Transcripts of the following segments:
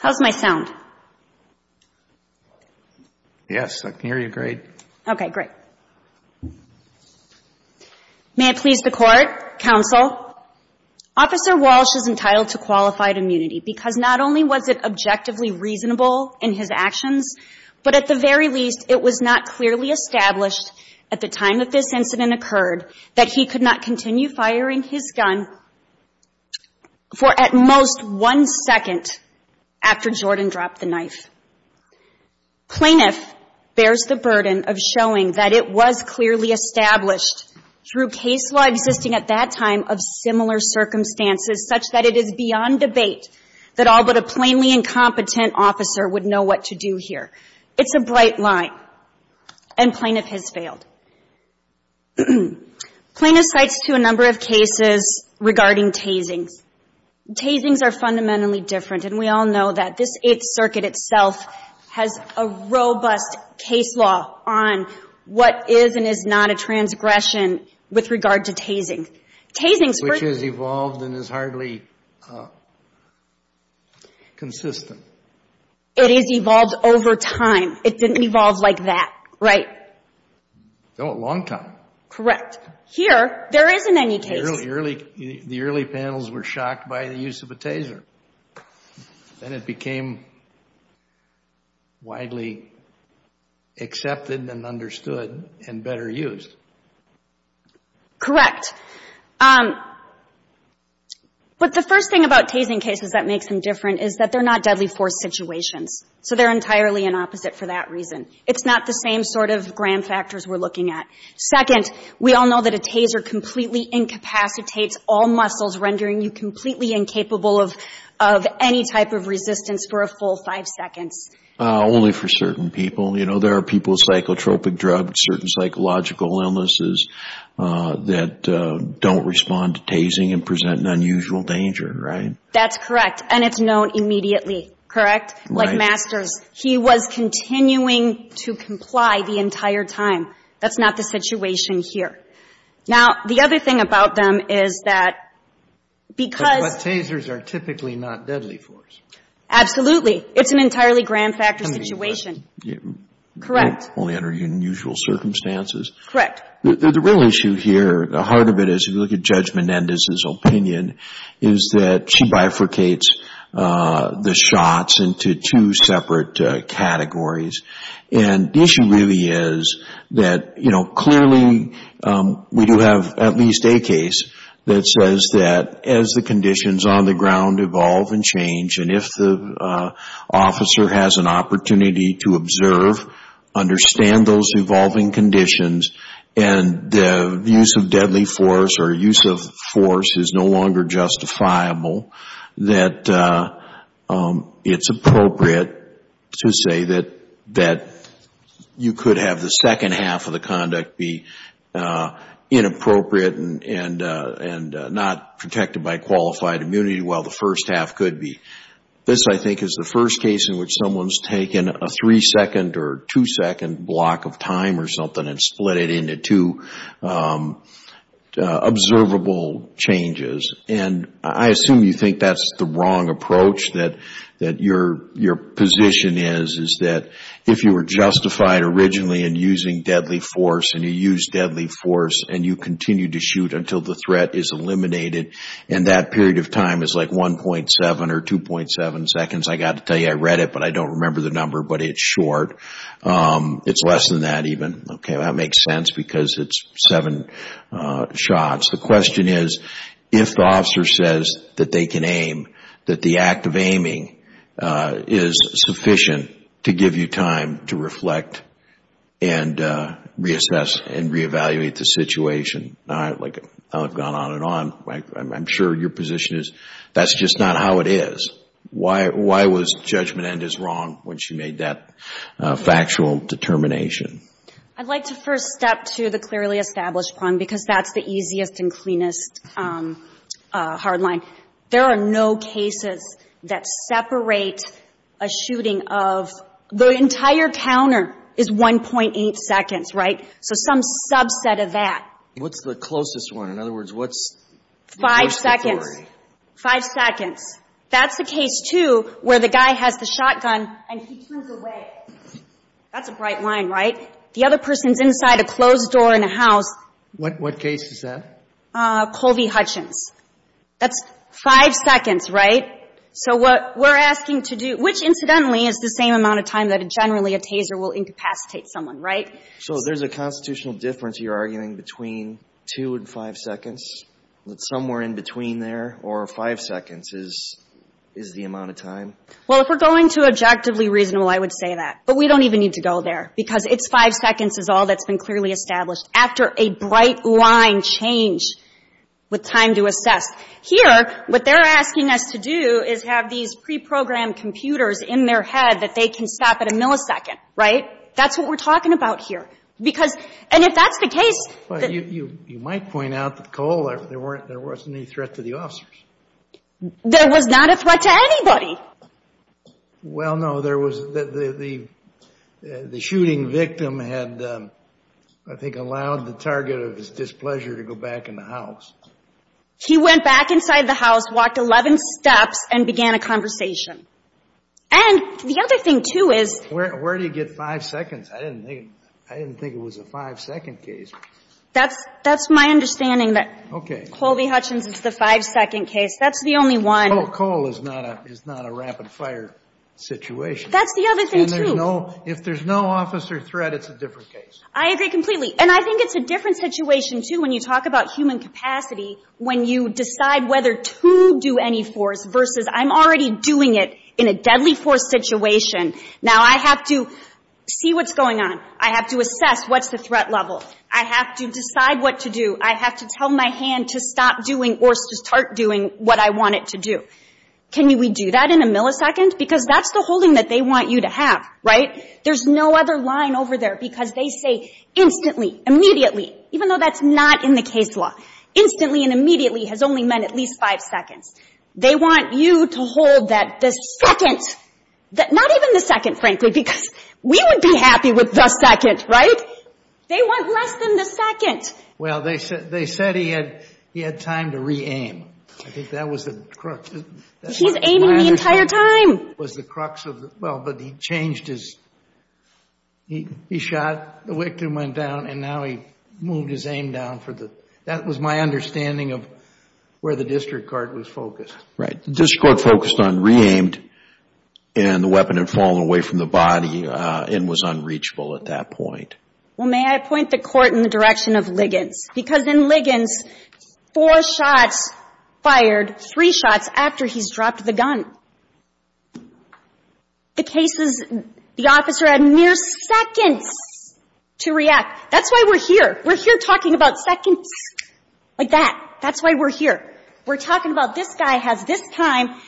How's my sound? Yes, I can hear you great. Okay, great. May it please the Court, counsel, Officer Walsh is entitled to qualified immunity because not only was it objectively reasonable in his actions, but at the very least, it was not clearly established at the time that this incident occurred that he could not continue firing his gun for at most one second after Jordan dropped the knife. Plaintiff bears the burden of showing that it was clearly established through case law existing at that time of similar circumstances such that it is beyond debate that all but a plainly incompetent officer would know what to do here. It's a bright line, and plaintiff has failed. Plaintiff cites to a number of cases regarding tasings. Tasings are fundamentally different, and we all know that. This Eighth Circuit itself has a robust case law on what is and is not a transgression with regard to tasing. Which has evolved and is hardly consistent. It has evolved over time. It didn't evolve like that, right? No, at long time. Correct. Here, there isn't any case. The early panels were shocked by the use of a taser. Then it became widely accepted and understood and better used. Correct. But the first thing about tasing cases that makes them different is that they're not deadly force situations. So they're entirely an opposite for that reason. It's not the same sort of gram factors we're looking at. Second, we all know that a taser completely incapacitates all muscles, rendering you completely incapable of any type of resistance for a full five seconds. Only for certain people. You know, there are people with psychotropic drugs, certain psychological illnesses, that don't respond to tasing and present an unusual danger, right? That's correct. And it's known immediately. Correct? Right. Like Masters. He was continuing to comply the entire time. That's not the situation here. Now, the other thing about them is that because But tasers are typically not deadly force. Absolutely. It's an entirely gram factor situation. Correct. Only under unusual circumstances. Correct. The real issue here, the heart of it is if you look at Judge Menendez's opinion, is that she bifurcates the shots into two separate categories. And the issue really is that, you know, clearly we do have at least a case that says that as the conditions on the ground evolve and change and if the officer has an opportunity to observe, understand those evolving conditions, and the use of deadly force or use of force is no longer justifiable, that it's appropriate to say that you could have the second half of the conduct be inappropriate and not protected by qualified immunity while the first half could be. This, I think, is the first case in which someone's taken a three-second or two-second block of time or something and split it into two observable changes. And I assume you think that's the wrong approach, that your position is, is that if you were justified originally in using deadly force and you use deadly force and you continue to shoot until the threat is eliminated and that period of time is like 1.7 or 2.7 seconds. I got to tell you, I read it, but I don't remember the number, but it's short. It's less than that even. Okay, that makes sense because it's seven shots. The question is, if the officer says that they can aim, that the act of aiming is sufficient to give you time to reflect and reassess and reevaluate the situation, like I've gone on and on. I'm sure your position is that's just not how it is. Why was judgment end is wrong when she made that factual determination? I'd like to first step to the clearly established problem because that's the easiest and cleanest hard line. There are no cases that separate a shooting of the entire counter is 1.8 seconds, right? So some subset of that. What's the closest one? In other words, what's the closest? Five seconds. Five seconds. That's the case, too, where the guy has the shotgun and he turns away. That's a bright line, right? The other person's inside a closed door in a house. What case is that? Colby Hutchins. That's five seconds, right? So what we're asking to do, which, incidentally, is the same amount of time that generally a taser will incapacitate someone, right? So there's a constitutional difference you're arguing between two and five seconds, somewhere in between there, or five seconds is the amount of time? Well, if we're going to objectively reasonable, I would say that. But we don't even need to go there because it's five seconds is all that's been clearly established after a bright line change with time to assess. Here, what they're asking us to do is have these preprogrammed computers in their head that they can stop at a millisecond, right? That's what we're talking about here. Because, and if that's the case. Well, you might point out that there wasn't any threat to the officers. There was not a threat to anybody. Well, no. There was the shooting victim had, I think, allowed the target of his displeasure to go back in the house. He went back inside the house, walked 11 steps, and began a conversation. And the other thing, too, is... Where do you get five seconds? I didn't think it was a five-second case. That's my understanding that Colby Hutchins is the five-second case. That's the only one. No, Cole is not a rapid-fire situation. That's the other thing, too. And if there's no officer threat, it's a different case. I agree completely. And I think it's a different situation, too, when you talk about human capacity when you decide whether to do any force versus I'm already doing it in a deadly force situation. Now, I have to see what's going on. I have to assess what's the threat level. I have to decide what to do. I have to tell my hand to stop doing or start doing what I want it to do. Can we do that in a millisecond? Because that's the holding that they want you to have, right? There's no other line over there because they say instantly, immediately, even though that's not in the case law. Instantly and immediately has only meant at least five seconds. They want you to hold that the second... Not even the second, frankly, because we would be happy with the second, right? They want less than the second. Well, they said he had time to re-aim. I think that was the crux... He's aiming the entire time. That was the crux of the... Well, but he changed his... He shot, the victim went down, and now he moved his aim down for the... That was my understanding of where the district court was focused. Right. The district court focused on re-aimed, and the weapon had fallen away from the body and was unreachable at that point. Well, may I point the court in the direction of Liggins? Because in Liggins, four shots fired, three shots after he's dropped the gun. The case is, the officer had mere seconds to react. That's why we're here. We're here talking about seconds, like that. That's why we're here. We're talking about this guy has this time.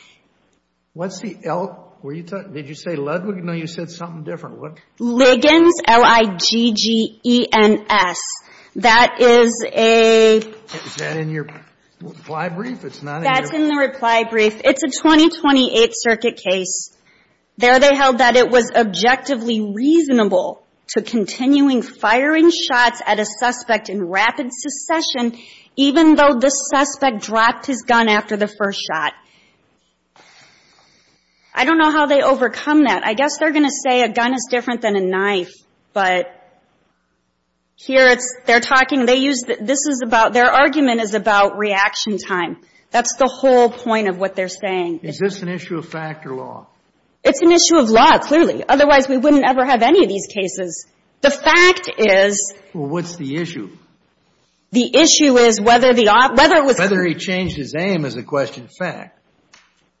What's the L? Did you say Ludwig? No, you said something different. Liggins, L-I-G-G-E-N-S. That is a... Is that in your reply brief? It's not in your... That's in the reply brief. It's a 2028 circuit case. There they held that it was objectively reasonable to continuing firing shots at a suspect in rapid succession, even though the suspect dropped his gun after the first shot. I don't know how they overcome that. I guess they're going to say a gun is different than a knife. But here they're talking... They use... This is about... Their argument is about reaction time. That's the whole point of what they're saying. Is this an issue of fact or law? It's an issue of law, clearly. Otherwise, we wouldn't ever have any of these cases. The fact is... Well, what's the issue? The issue is whether the... Whether he changed his aim is a question of fact.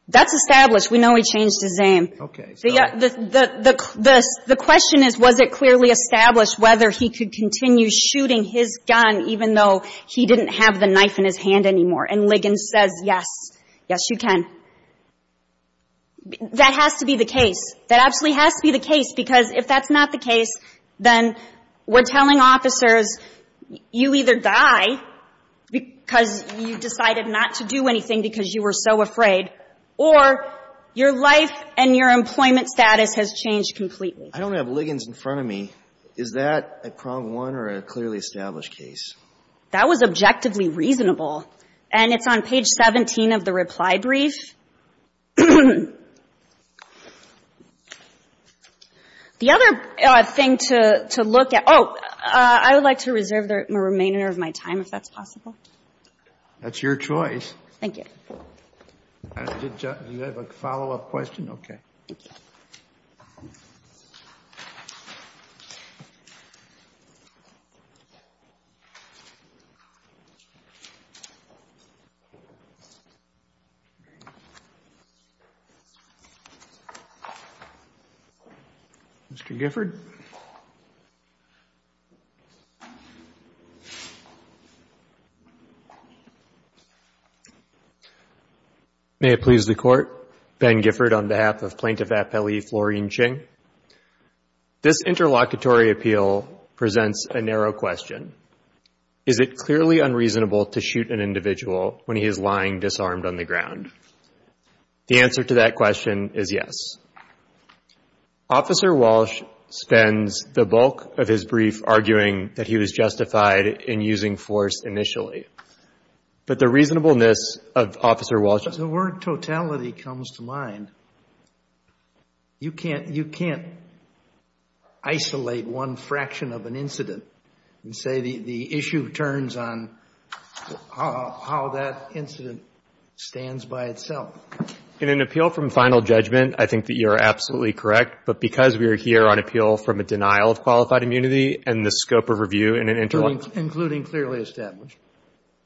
That's established. We know he changed his aim. Okay. The question is, was it clearly established whether he could continue shooting his gun even though he didn't have the knife in his hand anymore? And Ligon says, yes. Yes, you can. That has to be the case. That absolutely has to be the case because if that's not the case, then we're telling officers you either die because you decided not to do anything because you were so afraid or your life and your employment status has changed completely. I don't have Ligon's in front of me. Is that a prong one or a clearly established case? That was objectively reasonable. And it's on page 17 of the reply brief. The other thing to look at... Oh, I would like to reserve the remainder of my time if that's possible. That's your choice. Thank you. Do you have a follow-up question? Okay. Thank you. Mr. Gifford? May it please the Court, Ben Gifford on behalf of Plaintiff Appellee Florine Ching. This interlocutory appeal presents a narrow question. Is it clearly unreasonable to shoot an individual when he is lying disarmed on the ground? The answer to that question is yes. Officer Walsh spends the bulk of his brief arguing that he was justified in using force initially. But the reasonableness of Officer Walsh... When the word totality comes to mind, you can't isolate one fraction of an incident and say the issue turns on how that incident stands by itself. In an appeal from final judgment, I think that you are absolutely correct. But because we are here on appeal from a denial of qualified immunity and the scope of review in an interlock... Including clearly established.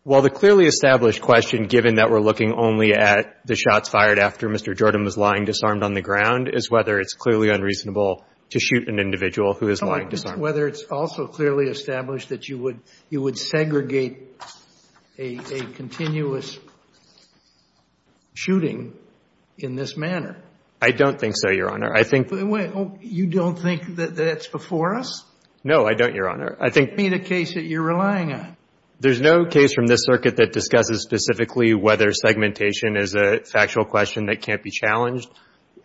Well, the clearly established question, given that we're looking only at the shots fired after Mr. Jordan was lying disarmed on the ground, is whether it's clearly unreasonable to shoot an individual who is lying disarmed. Whether it's also clearly established that you would segregate a continuous shooting in this manner. I don't think so, Your Honor. I think... You don't think that that's before us? No, I don't, Your Honor. I think... Give me the case that you're relying on. There's no case from this circuit that discusses specifically whether segmentation is a factual question that can't be challenged.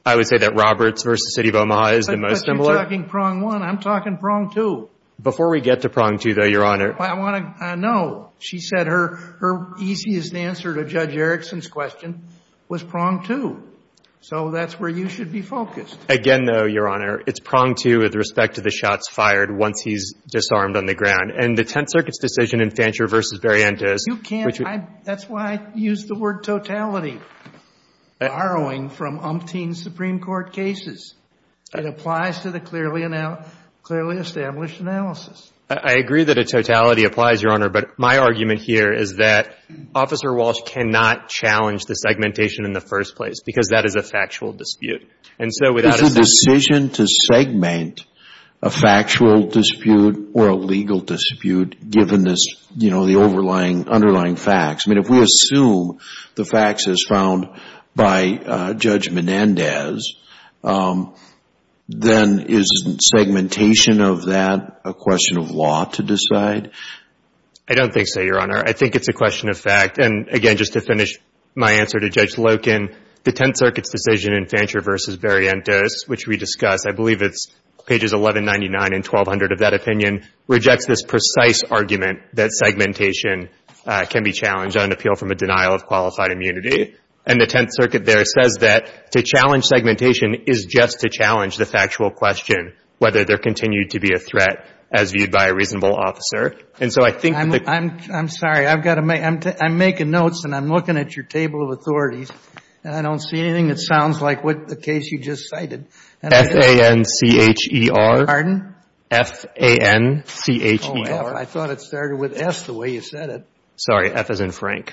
I would say that Roberts v. City of Omaha is the most similar. But you're talking prong one. I'm talking prong two. Before we get to prong two, though, Your Honor... I want to know. She said her easiest answer to Judge Erickson's question was prong two. So that's where you should be focused. Again, though, Your Honor, it's prong two with respect to the shots fired once he's disarmed on the ground. And the Tenth Circuit's decision in Fancher v. Barrientos... You can't... That's why I used the word totality, borrowing from umpteen Supreme Court cases. It applies to the clearly established analysis. I agree that a totality applies, Your Honor. But my argument here is that Officer Walsh cannot challenge the segmentation in the first place because that is a factual dispute. And so without a... It's a decision to segment a factual dispute or a legal dispute given this, you know, the underlying facts. I mean, if we assume the facts as found by Judge Menendez, then isn't segmentation of that a question of law to decide? I don't think so, Your Honor. I think it's a question of fact. And, again, just to finish my answer to Judge Loken, the Tenth Circuit's decision in Fancher v. Barrientos, which we discussed, I believe it's pages 1199 and 1200 of that opinion, rejects this precise argument that segmentation can be challenged on appeal from a denial of qualified immunity. And the Tenth Circuit there says that to challenge segmentation is just to challenge the factual question, whether there continued to be a threat as viewed by a reasonable officer. And so I think... I'm sorry. I've got to make... I'm making notes, and I'm looking at your table of authorities, and I don't see anything that sounds like the case you just cited. F-A-N-C-H-E-R. Pardon? F-A-N-C-H-E-R. Oh, I thought it started with S the way you said it. Sorry. F as in Frank.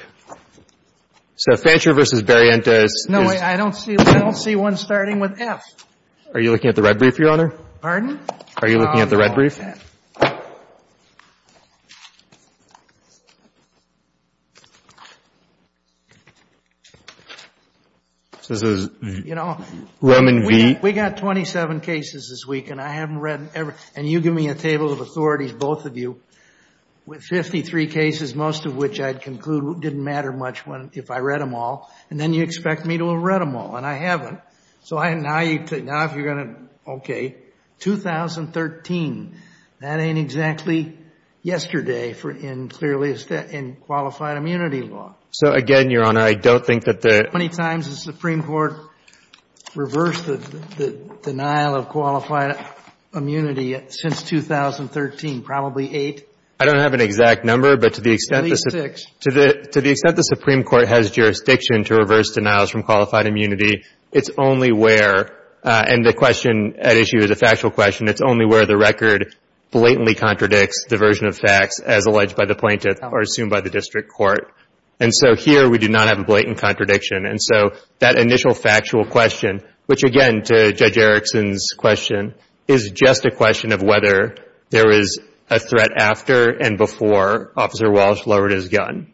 So Fancher v. Barrientos is... No, I don't see one starting with F. Are you looking at the red brief, Your Honor? Pardon? Are you looking at the red brief? It starts with F. It says... You know... Lemon v... We got 27 cases this week, and I haven't read every... And you give me a table of authorities, both of you, with 53 cases, most of which I'd conclude didn't matter much if I read them all. And then you expect me to have read them all, and I haven't. So now if you're going to... Okay. So I'm going to say, okay, 2013, that ain't exactly yesterday in clearly in qualified immunity law. So again, Your Honor, I don't think that the... How many times has the Supreme Court reversed the denial of qualified immunity since 2013? Probably eight? I don't have an exact number, but to the extent... At least six. To the extent the Supreme Court has jurisdiction to reverse denials from qualified immunity, it's only where, and the question at issue is a factual question, it's only where the record blatantly contradicts the version of facts as alleged by the plaintiff or assumed by the district court. And so here we do not have a blatant contradiction. And so that initial factual question, which again, to Judge Erickson's question, is just a question of whether there is a threat after and before Officer Walsh lowered his gun.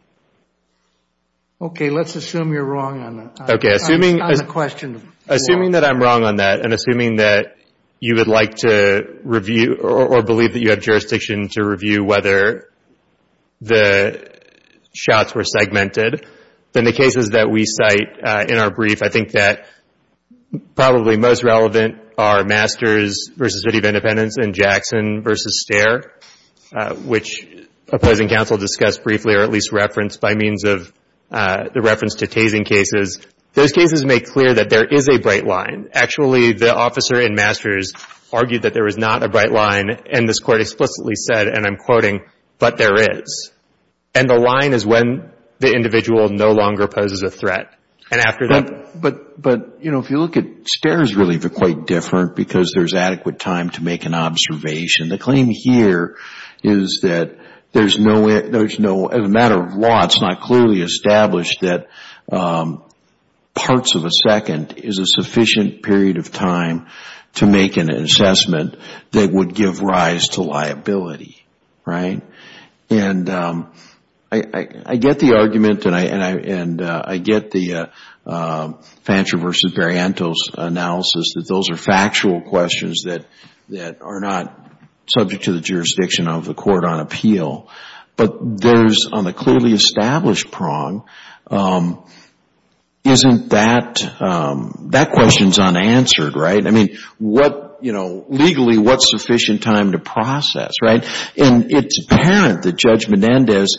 Okay. Let's assume you're wrong on that. Okay. Assuming... On the question... Assuming that I'm wrong on that and assuming that you would like to review or believe that you have jurisdiction to review whether the shots were segmented, then the cases that we cite in our brief, I think that probably most relevant are Masters v. City of Independence and Jackson v. Stare, which opposing counsel discussed briefly or at least referenced by means of the reference to tasing cases. Those cases make clear that there is a bright line. Actually, the officer in Masters argued that there was not a bright line, and this Court explicitly said, and I'm quoting, but there is. And the line is when the individual no longer poses a threat. And after that... But, you know, if you look at Stare, it's really quite different because there's adequate time to make an observation. The claim here is that there's no, as a matter of law, it's not clearly established that parts of a second is a sufficient period of time to make an assessment that would give rise to liability, right? And I get the argument and I get the Fancher v. Barrientos analysis that those are factual questions that are not subject to the jurisdiction of the Court on appeal. But there's, on the clearly established prong, isn't that... That question's unanswered, right? I mean, what, you know, legally, what's sufficient time to process, right? And it's apparent that Judge Menendez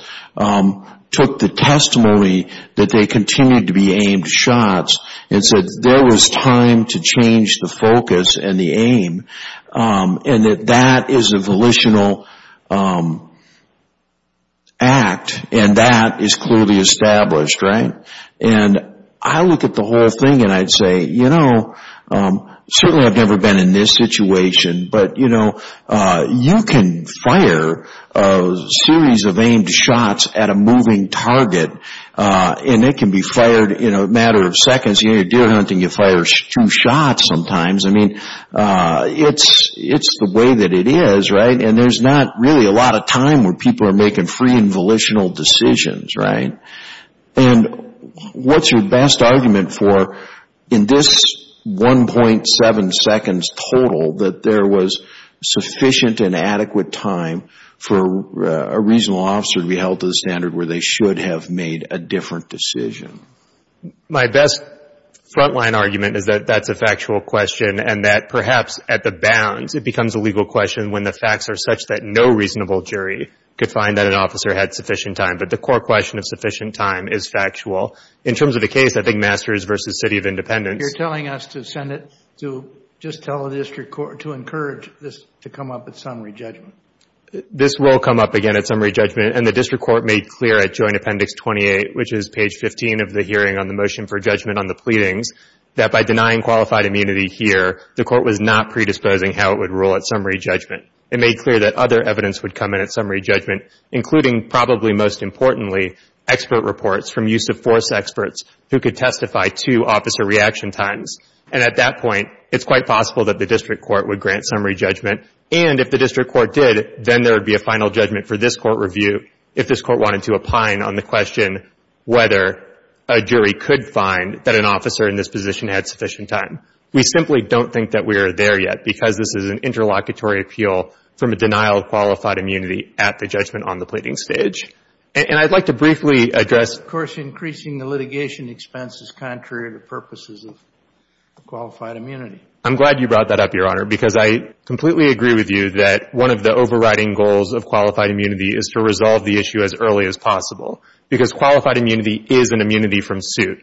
took the testimony that they continued to be aimed shots and said there was time to change the focus and the aim, and that that is a volitional act and that is clearly established, right? And I look at the whole thing and I'd say, you know, certainly I've never been in this situation, but, you know, you can fire a series of aimed shots at a moving target and it can be fired in a matter of seconds. You know, deer hunting, you fire two shots sometimes. I mean, it's the way that it is, right? And there's not really a lot of time where people are making free and volitional decisions, right? And what's your best argument for, in this 1.7 seconds total, that there was sufficient and adequate time for a reasonable officer to be held to the standard where they should have made a different decision? My best frontline argument is that that's a factual question and that perhaps at the bounds it becomes a legal question when the facts are such that no reasonable jury could find that an officer had sufficient time. But the core question of sufficient time is factual. In terms of the case, I think Masters v. City of Independence. You're telling us to send it to just tell the district court to encourage this to come up at summary judgment. This will come up again at summary judgment, and the district court made clear at joint appendix 28, which is page 15 of the hearing on the motion for judgment on the pleadings, that by denying qualified immunity here, the court was not predisposing how it would rule at summary judgment. It made clear that other evidence would come in at summary judgment, including probably most importantly, expert reports from use of force experts who could testify to officer reaction times. And at that point, it's quite possible that the district court would grant summary judgment, and if the district court did, then there would be a final judgment for this court review if this court wanted to opine on the question whether a jury could find that an officer in this position had sufficient time. We simply don't think that we are there yet, because this is an interlocutory appeal from a denial of qualified immunity at the judgment on the pleading stage. And I'd like to briefly address. Of course, increasing the litigation expense is contrary to purposes of qualified immunity. I'm glad you brought that up, Your Honor, because I completely agree with you that one of the overriding goals of qualified immunity is to resolve the issue as early as possible, because qualified immunity is an immunity from suit.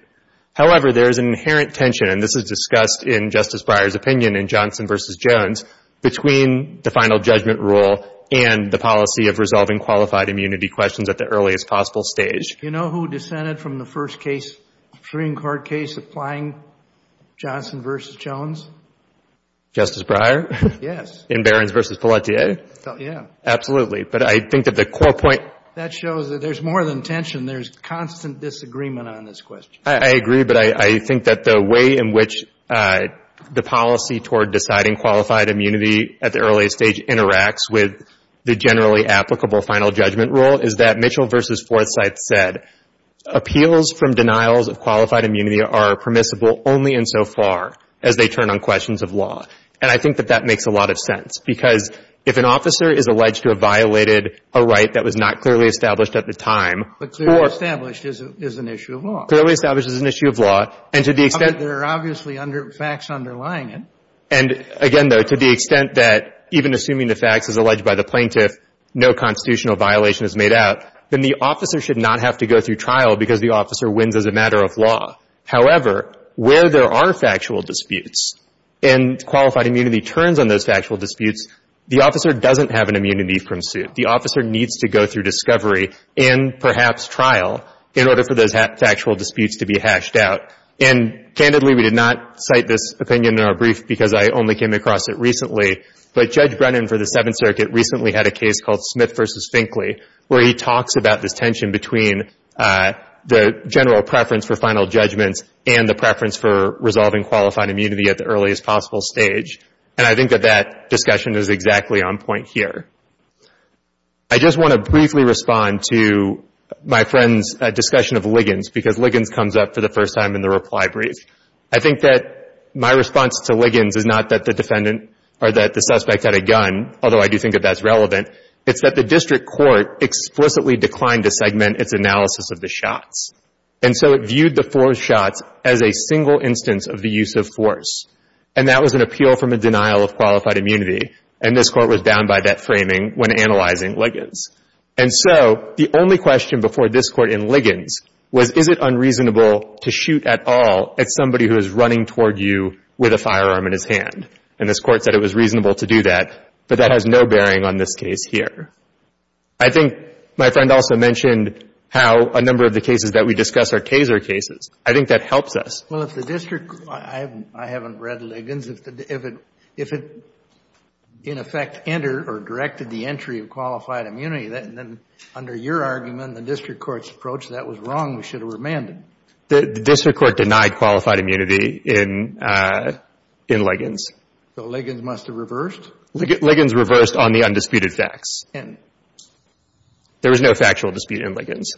However, there is an inherent tension, and this is discussed in Justice Breyer's opinion in Johnson v. Jones, between the final judgment rule and the policy of resolving qualified immunity questions at the earliest possible stage. Do you know who dissented from the first case, Supreme Court case, applying Johnson v. Jones? Justice Breyer? Yes. In Barrons v. Pelletier? Yeah. Absolutely. But I think that the core point. That shows that there's more than tension. There's constant disagreement on this question. I agree. But I think that the way in which the policy toward deciding qualified immunity at the earliest stage interacts with the generally applicable final judgment rule is that Mitchell v. Forsyth said, appeals from denials of qualified immunity are permissible only insofar as they turn on questions of law. And I think that that makes a lot of sense, because if an officer is alleged to have violated a right that was not clearly established at the time, or — But clearly established is an issue of law. Clearly established is an issue of law. And to the extent — But there are obviously facts underlying it. And again, though, to the extent that even assuming the facts as alleged by the plaintiff, no constitutional violation is made out, then the officer should not have to go through trial because the officer wins as a matter of law. However, where there are factual disputes and qualified immunity turns on those factual disputes, the officer doesn't have an immunity from suit. The officer needs to go through discovery and perhaps trial in order for those factual disputes to be hashed out. And candidly, we did not cite this opinion in our brief because I only came across it recently. But Judge Brennan for the Seventh Circuit recently had a case called Smith v. Finkley where he talks about this tension between the general preference for final judgments and the preference for resolving qualified immunity at the earliest possible stage. And I think that that discussion is exactly on point here. I just want to briefly respond to my friend's discussion of Liggins because Liggins comes up for the first time in the reply brief. I think that my response to Liggins is not that the defendant or that the suspect had a gun, although I do think that that's relevant. It's that the district court explicitly declined to segment its analysis of the shots. And so it viewed the four shots as a single instance of the use of force. And that was an appeal from a denial of qualified immunity. And this Court was down by that framing when analyzing Liggins. And so the only question before this Court in Liggins was, is it unreasonable to shoot at all at somebody who is running toward you with a firearm in his hand? And this Court said it was reasonable to do that, but that has no bearing on this case here. I think my friend also mentioned how a number of the cases that we discuss are taser cases. I think that helps us. Well, if the district court, I haven't read Liggins, if it in effect entered or directed the entry of qualified immunity, then under your argument, the district court's approach, that was wrong. We should have remanded. The district court denied qualified immunity in Liggins. So Liggins must have reversed? Liggins reversed on the undisputed facts. And there was no factual dispute in Liggins.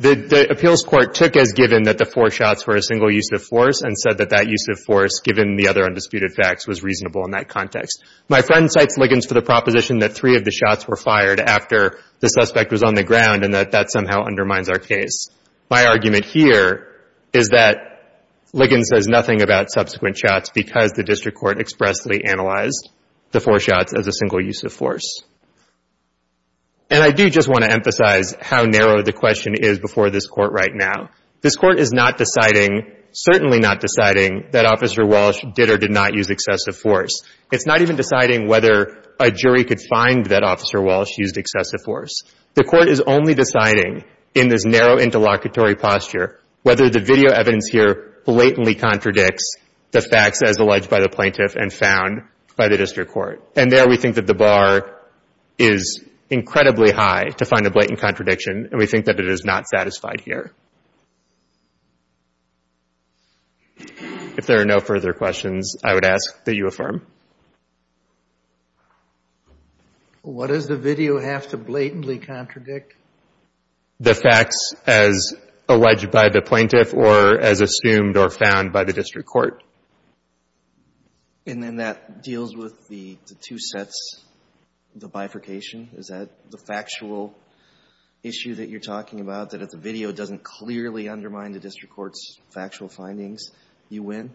The appeals court took as given that the four shots were a single use of force and said that that use of force, given the other undisputed facts, was reasonable in that context. My friend cites Liggins for the proposition that three of the shots were fired after the suspect was on the ground and that that somehow undermines our case. My argument here is that Liggins says nothing about subsequent shots because the use of force. And I do just want to emphasize how narrow the question is before this court right now. This court is not deciding, certainly not deciding, that Officer Walsh did or did not use excessive force. It's not even deciding whether a jury could find that Officer Walsh used excessive force. The court is only deciding, in this narrow interlocutory posture, whether the video evidence here blatantly contradicts the facts as alleged by the plaintiff and found by the district court. And there we think that the bar is incredibly high to find a blatant contradiction and we think that it is not satisfied here. If there are no further questions, I would ask that you affirm. What does the video have to blatantly contradict? The facts as alleged by the plaintiff or as assumed or found by the district court. And then that deals with the two sets, the bifurcation? Is that the factual issue that you're talking about, that if the video doesn't clearly undermine the district court's factual findings, you win?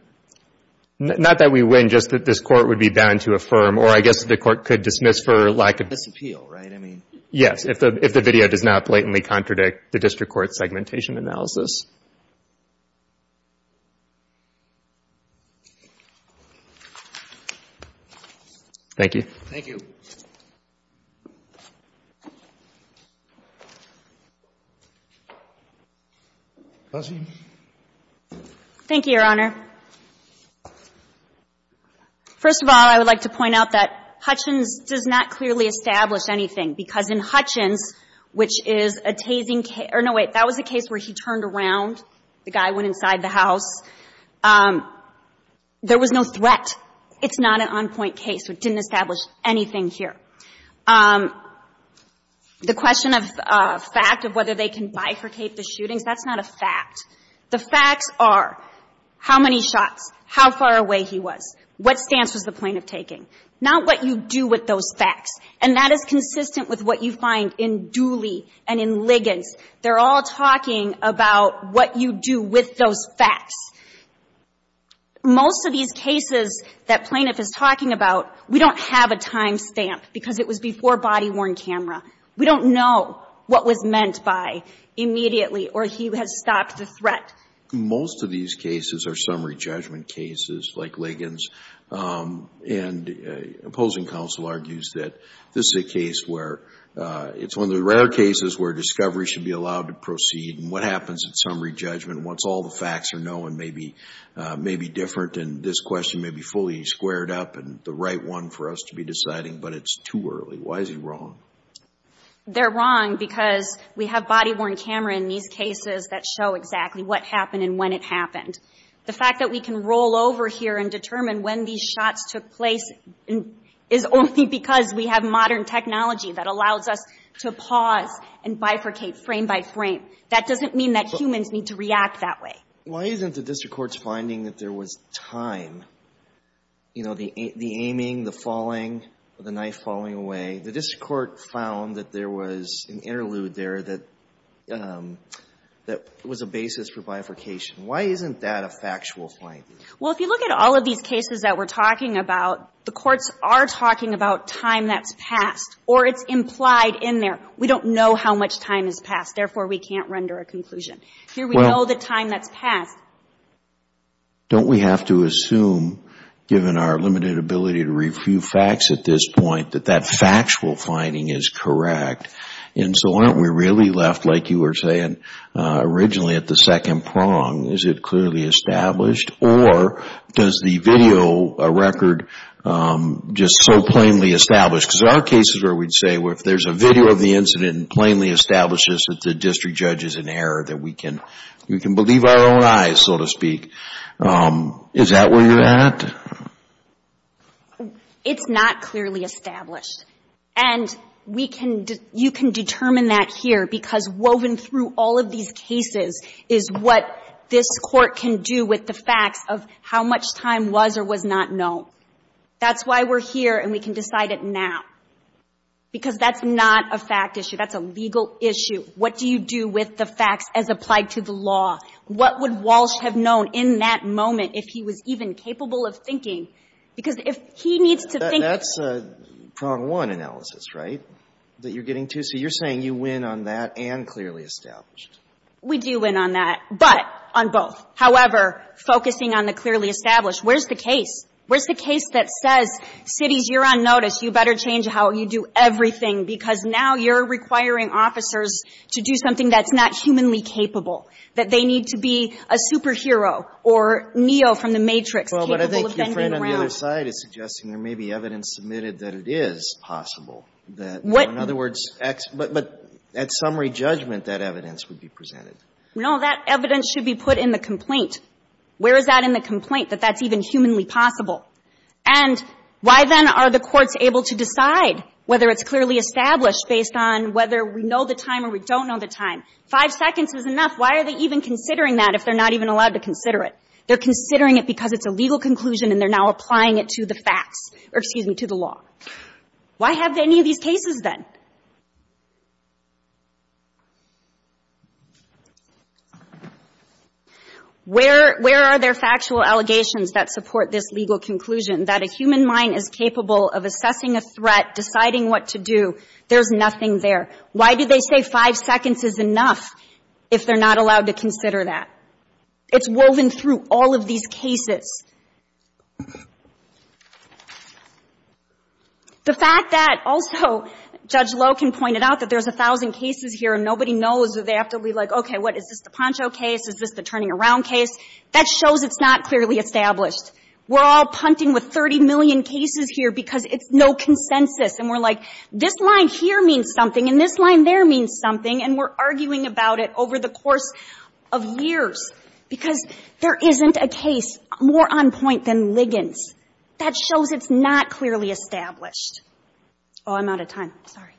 Not that we win, just that this court would be bound to affirm. Or I guess the court could dismiss for lack of ---- Disappeal, right? I mean ---- Yes, if the video does not blatantly contradict the district court's segmentation analysis. Thank you. Thank you. Thank you, Your Honor. First of all, I would like to point out that Hutchins does not clearly establish anything, because in Hutchins, which is a tasing case or no, wait, that was a case where he turned around, the guy went inside the house. There was no threat. It's not an on-point case. It didn't establish anything here. The question of fact of whether they can bifurcate the shootings, that's not a fact. The facts are how many shots, how far away he was, what stance was the plaintiff taking, not what you do with those facts. And that is consistent with what you find in Dooley and in Liggins. They're all talking about what you do with those facts. Most of these cases that plaintiff is talking about, we don't have a time stamp, because it was before body-worn camera. We don't know what was meant by immediately or he has stopped the threat. Most of these cases are summary judgment cases like Liggins. And opposing counsel argues that this is a case where it's one of the rare cases where discovery should be allowed to proceed. And what happens at summary judgment once all the facts are known may be different and this question may be fully squared up and the right one for us to be deciding, but it's too early. Why is he wrong? They're wrong because we have body-worn camera in these cases that show exactly what happened and when it happened. The fact that we can roll over here and determine when these shots took place is only because we have modern technology that allows us to pause and bifurcate frame by frame. That doesn't mean that humans need to react that way. Why isn't the district court's finding that there was time, you know, the aiming, the falling, the knife falling away? The district court found that there was an interlude there that was a basis for bifurcation. Why isn't that a factual finding? Well, if you look at all of these cases that we're talking about, the courts are talking about time that's passed or it's implied in there. We don't know how much time has passed. Therefore, we can't render a conclusion. Here we know the time that's passed. Don't we have to assume, given our limited ability to review facts at this point, that that factual finding is correct? And so aren't we really left, like you were saying, originally at the second prong? Is it clearly established? Or does the video record just so plainly establish? Because there are cases where we'd say, well, if there's a video of the incident and plainly establishes that the district judge is in error, that we can believe our own eyes, so to speak. Is that where you're at? It's not clearly established. And you can determine that here because woven through all of these cases is what this Court can do with the facts of how much time was or was not known. That's why we're here and we can decide it now, because that's not a fact issue. That's a legal issue. What do you do with the facts as applied to the law? What would Walsh have known in that moment if he was even capable of thinking? Because if he needs to think of it. That's a prong one analysis, right, that you're getting to? So you're saying you win on that and clearly established. We do win on that. But on both. However, focusing on the clearly established, where's the case? Where's the case that says, cities, you're on notice, you better change how you do everything, because now you're requiring officers to do something that's not humanly capable, that they need to be a superhero or Neo from the Matrix capable of bending around. Well, but I think your friend on the other side is suggesting there may be evidence submitted that it is possible that, in other words, X. But at summary judgment, that evidence would be presented. No, that evidence should be put in the complaint. Where is that in the complaint, that that's even humanly possible? And why, then, are the courts able to decide whether it's clearly established based on whether we know the time or we don't know the time? Five seconds is enough. Why are they even considering that if they're not even allowed to consider it? They're considering it because it's a legal conclusion and they're now applying it to the facts or, excuse me, to the law. Why have any of these cases, then? Where are there factual allegations that support this legal conclusion, that a human mind is capable of assessing a threat, deciding what to do? There's nothing there. Why do they say five seconds is enough if they're not allowed to consider that? It's woven through all of these cases. The fact that also Judge Loken pointed out that there's 1,000 cases here and nobody knows or they have to be like, okay, what, is this the Poncho case, is this the turning around case, that shows it's not clearly established. We're all punting with 30 million cases here because it's no consensus. And we're like, this line here means something and this line there means something and we're arguing about it over the course of years because there isn't a case more on point than Liggins. That shows it's not clearly established. Oh, I'm out of time. Sorry.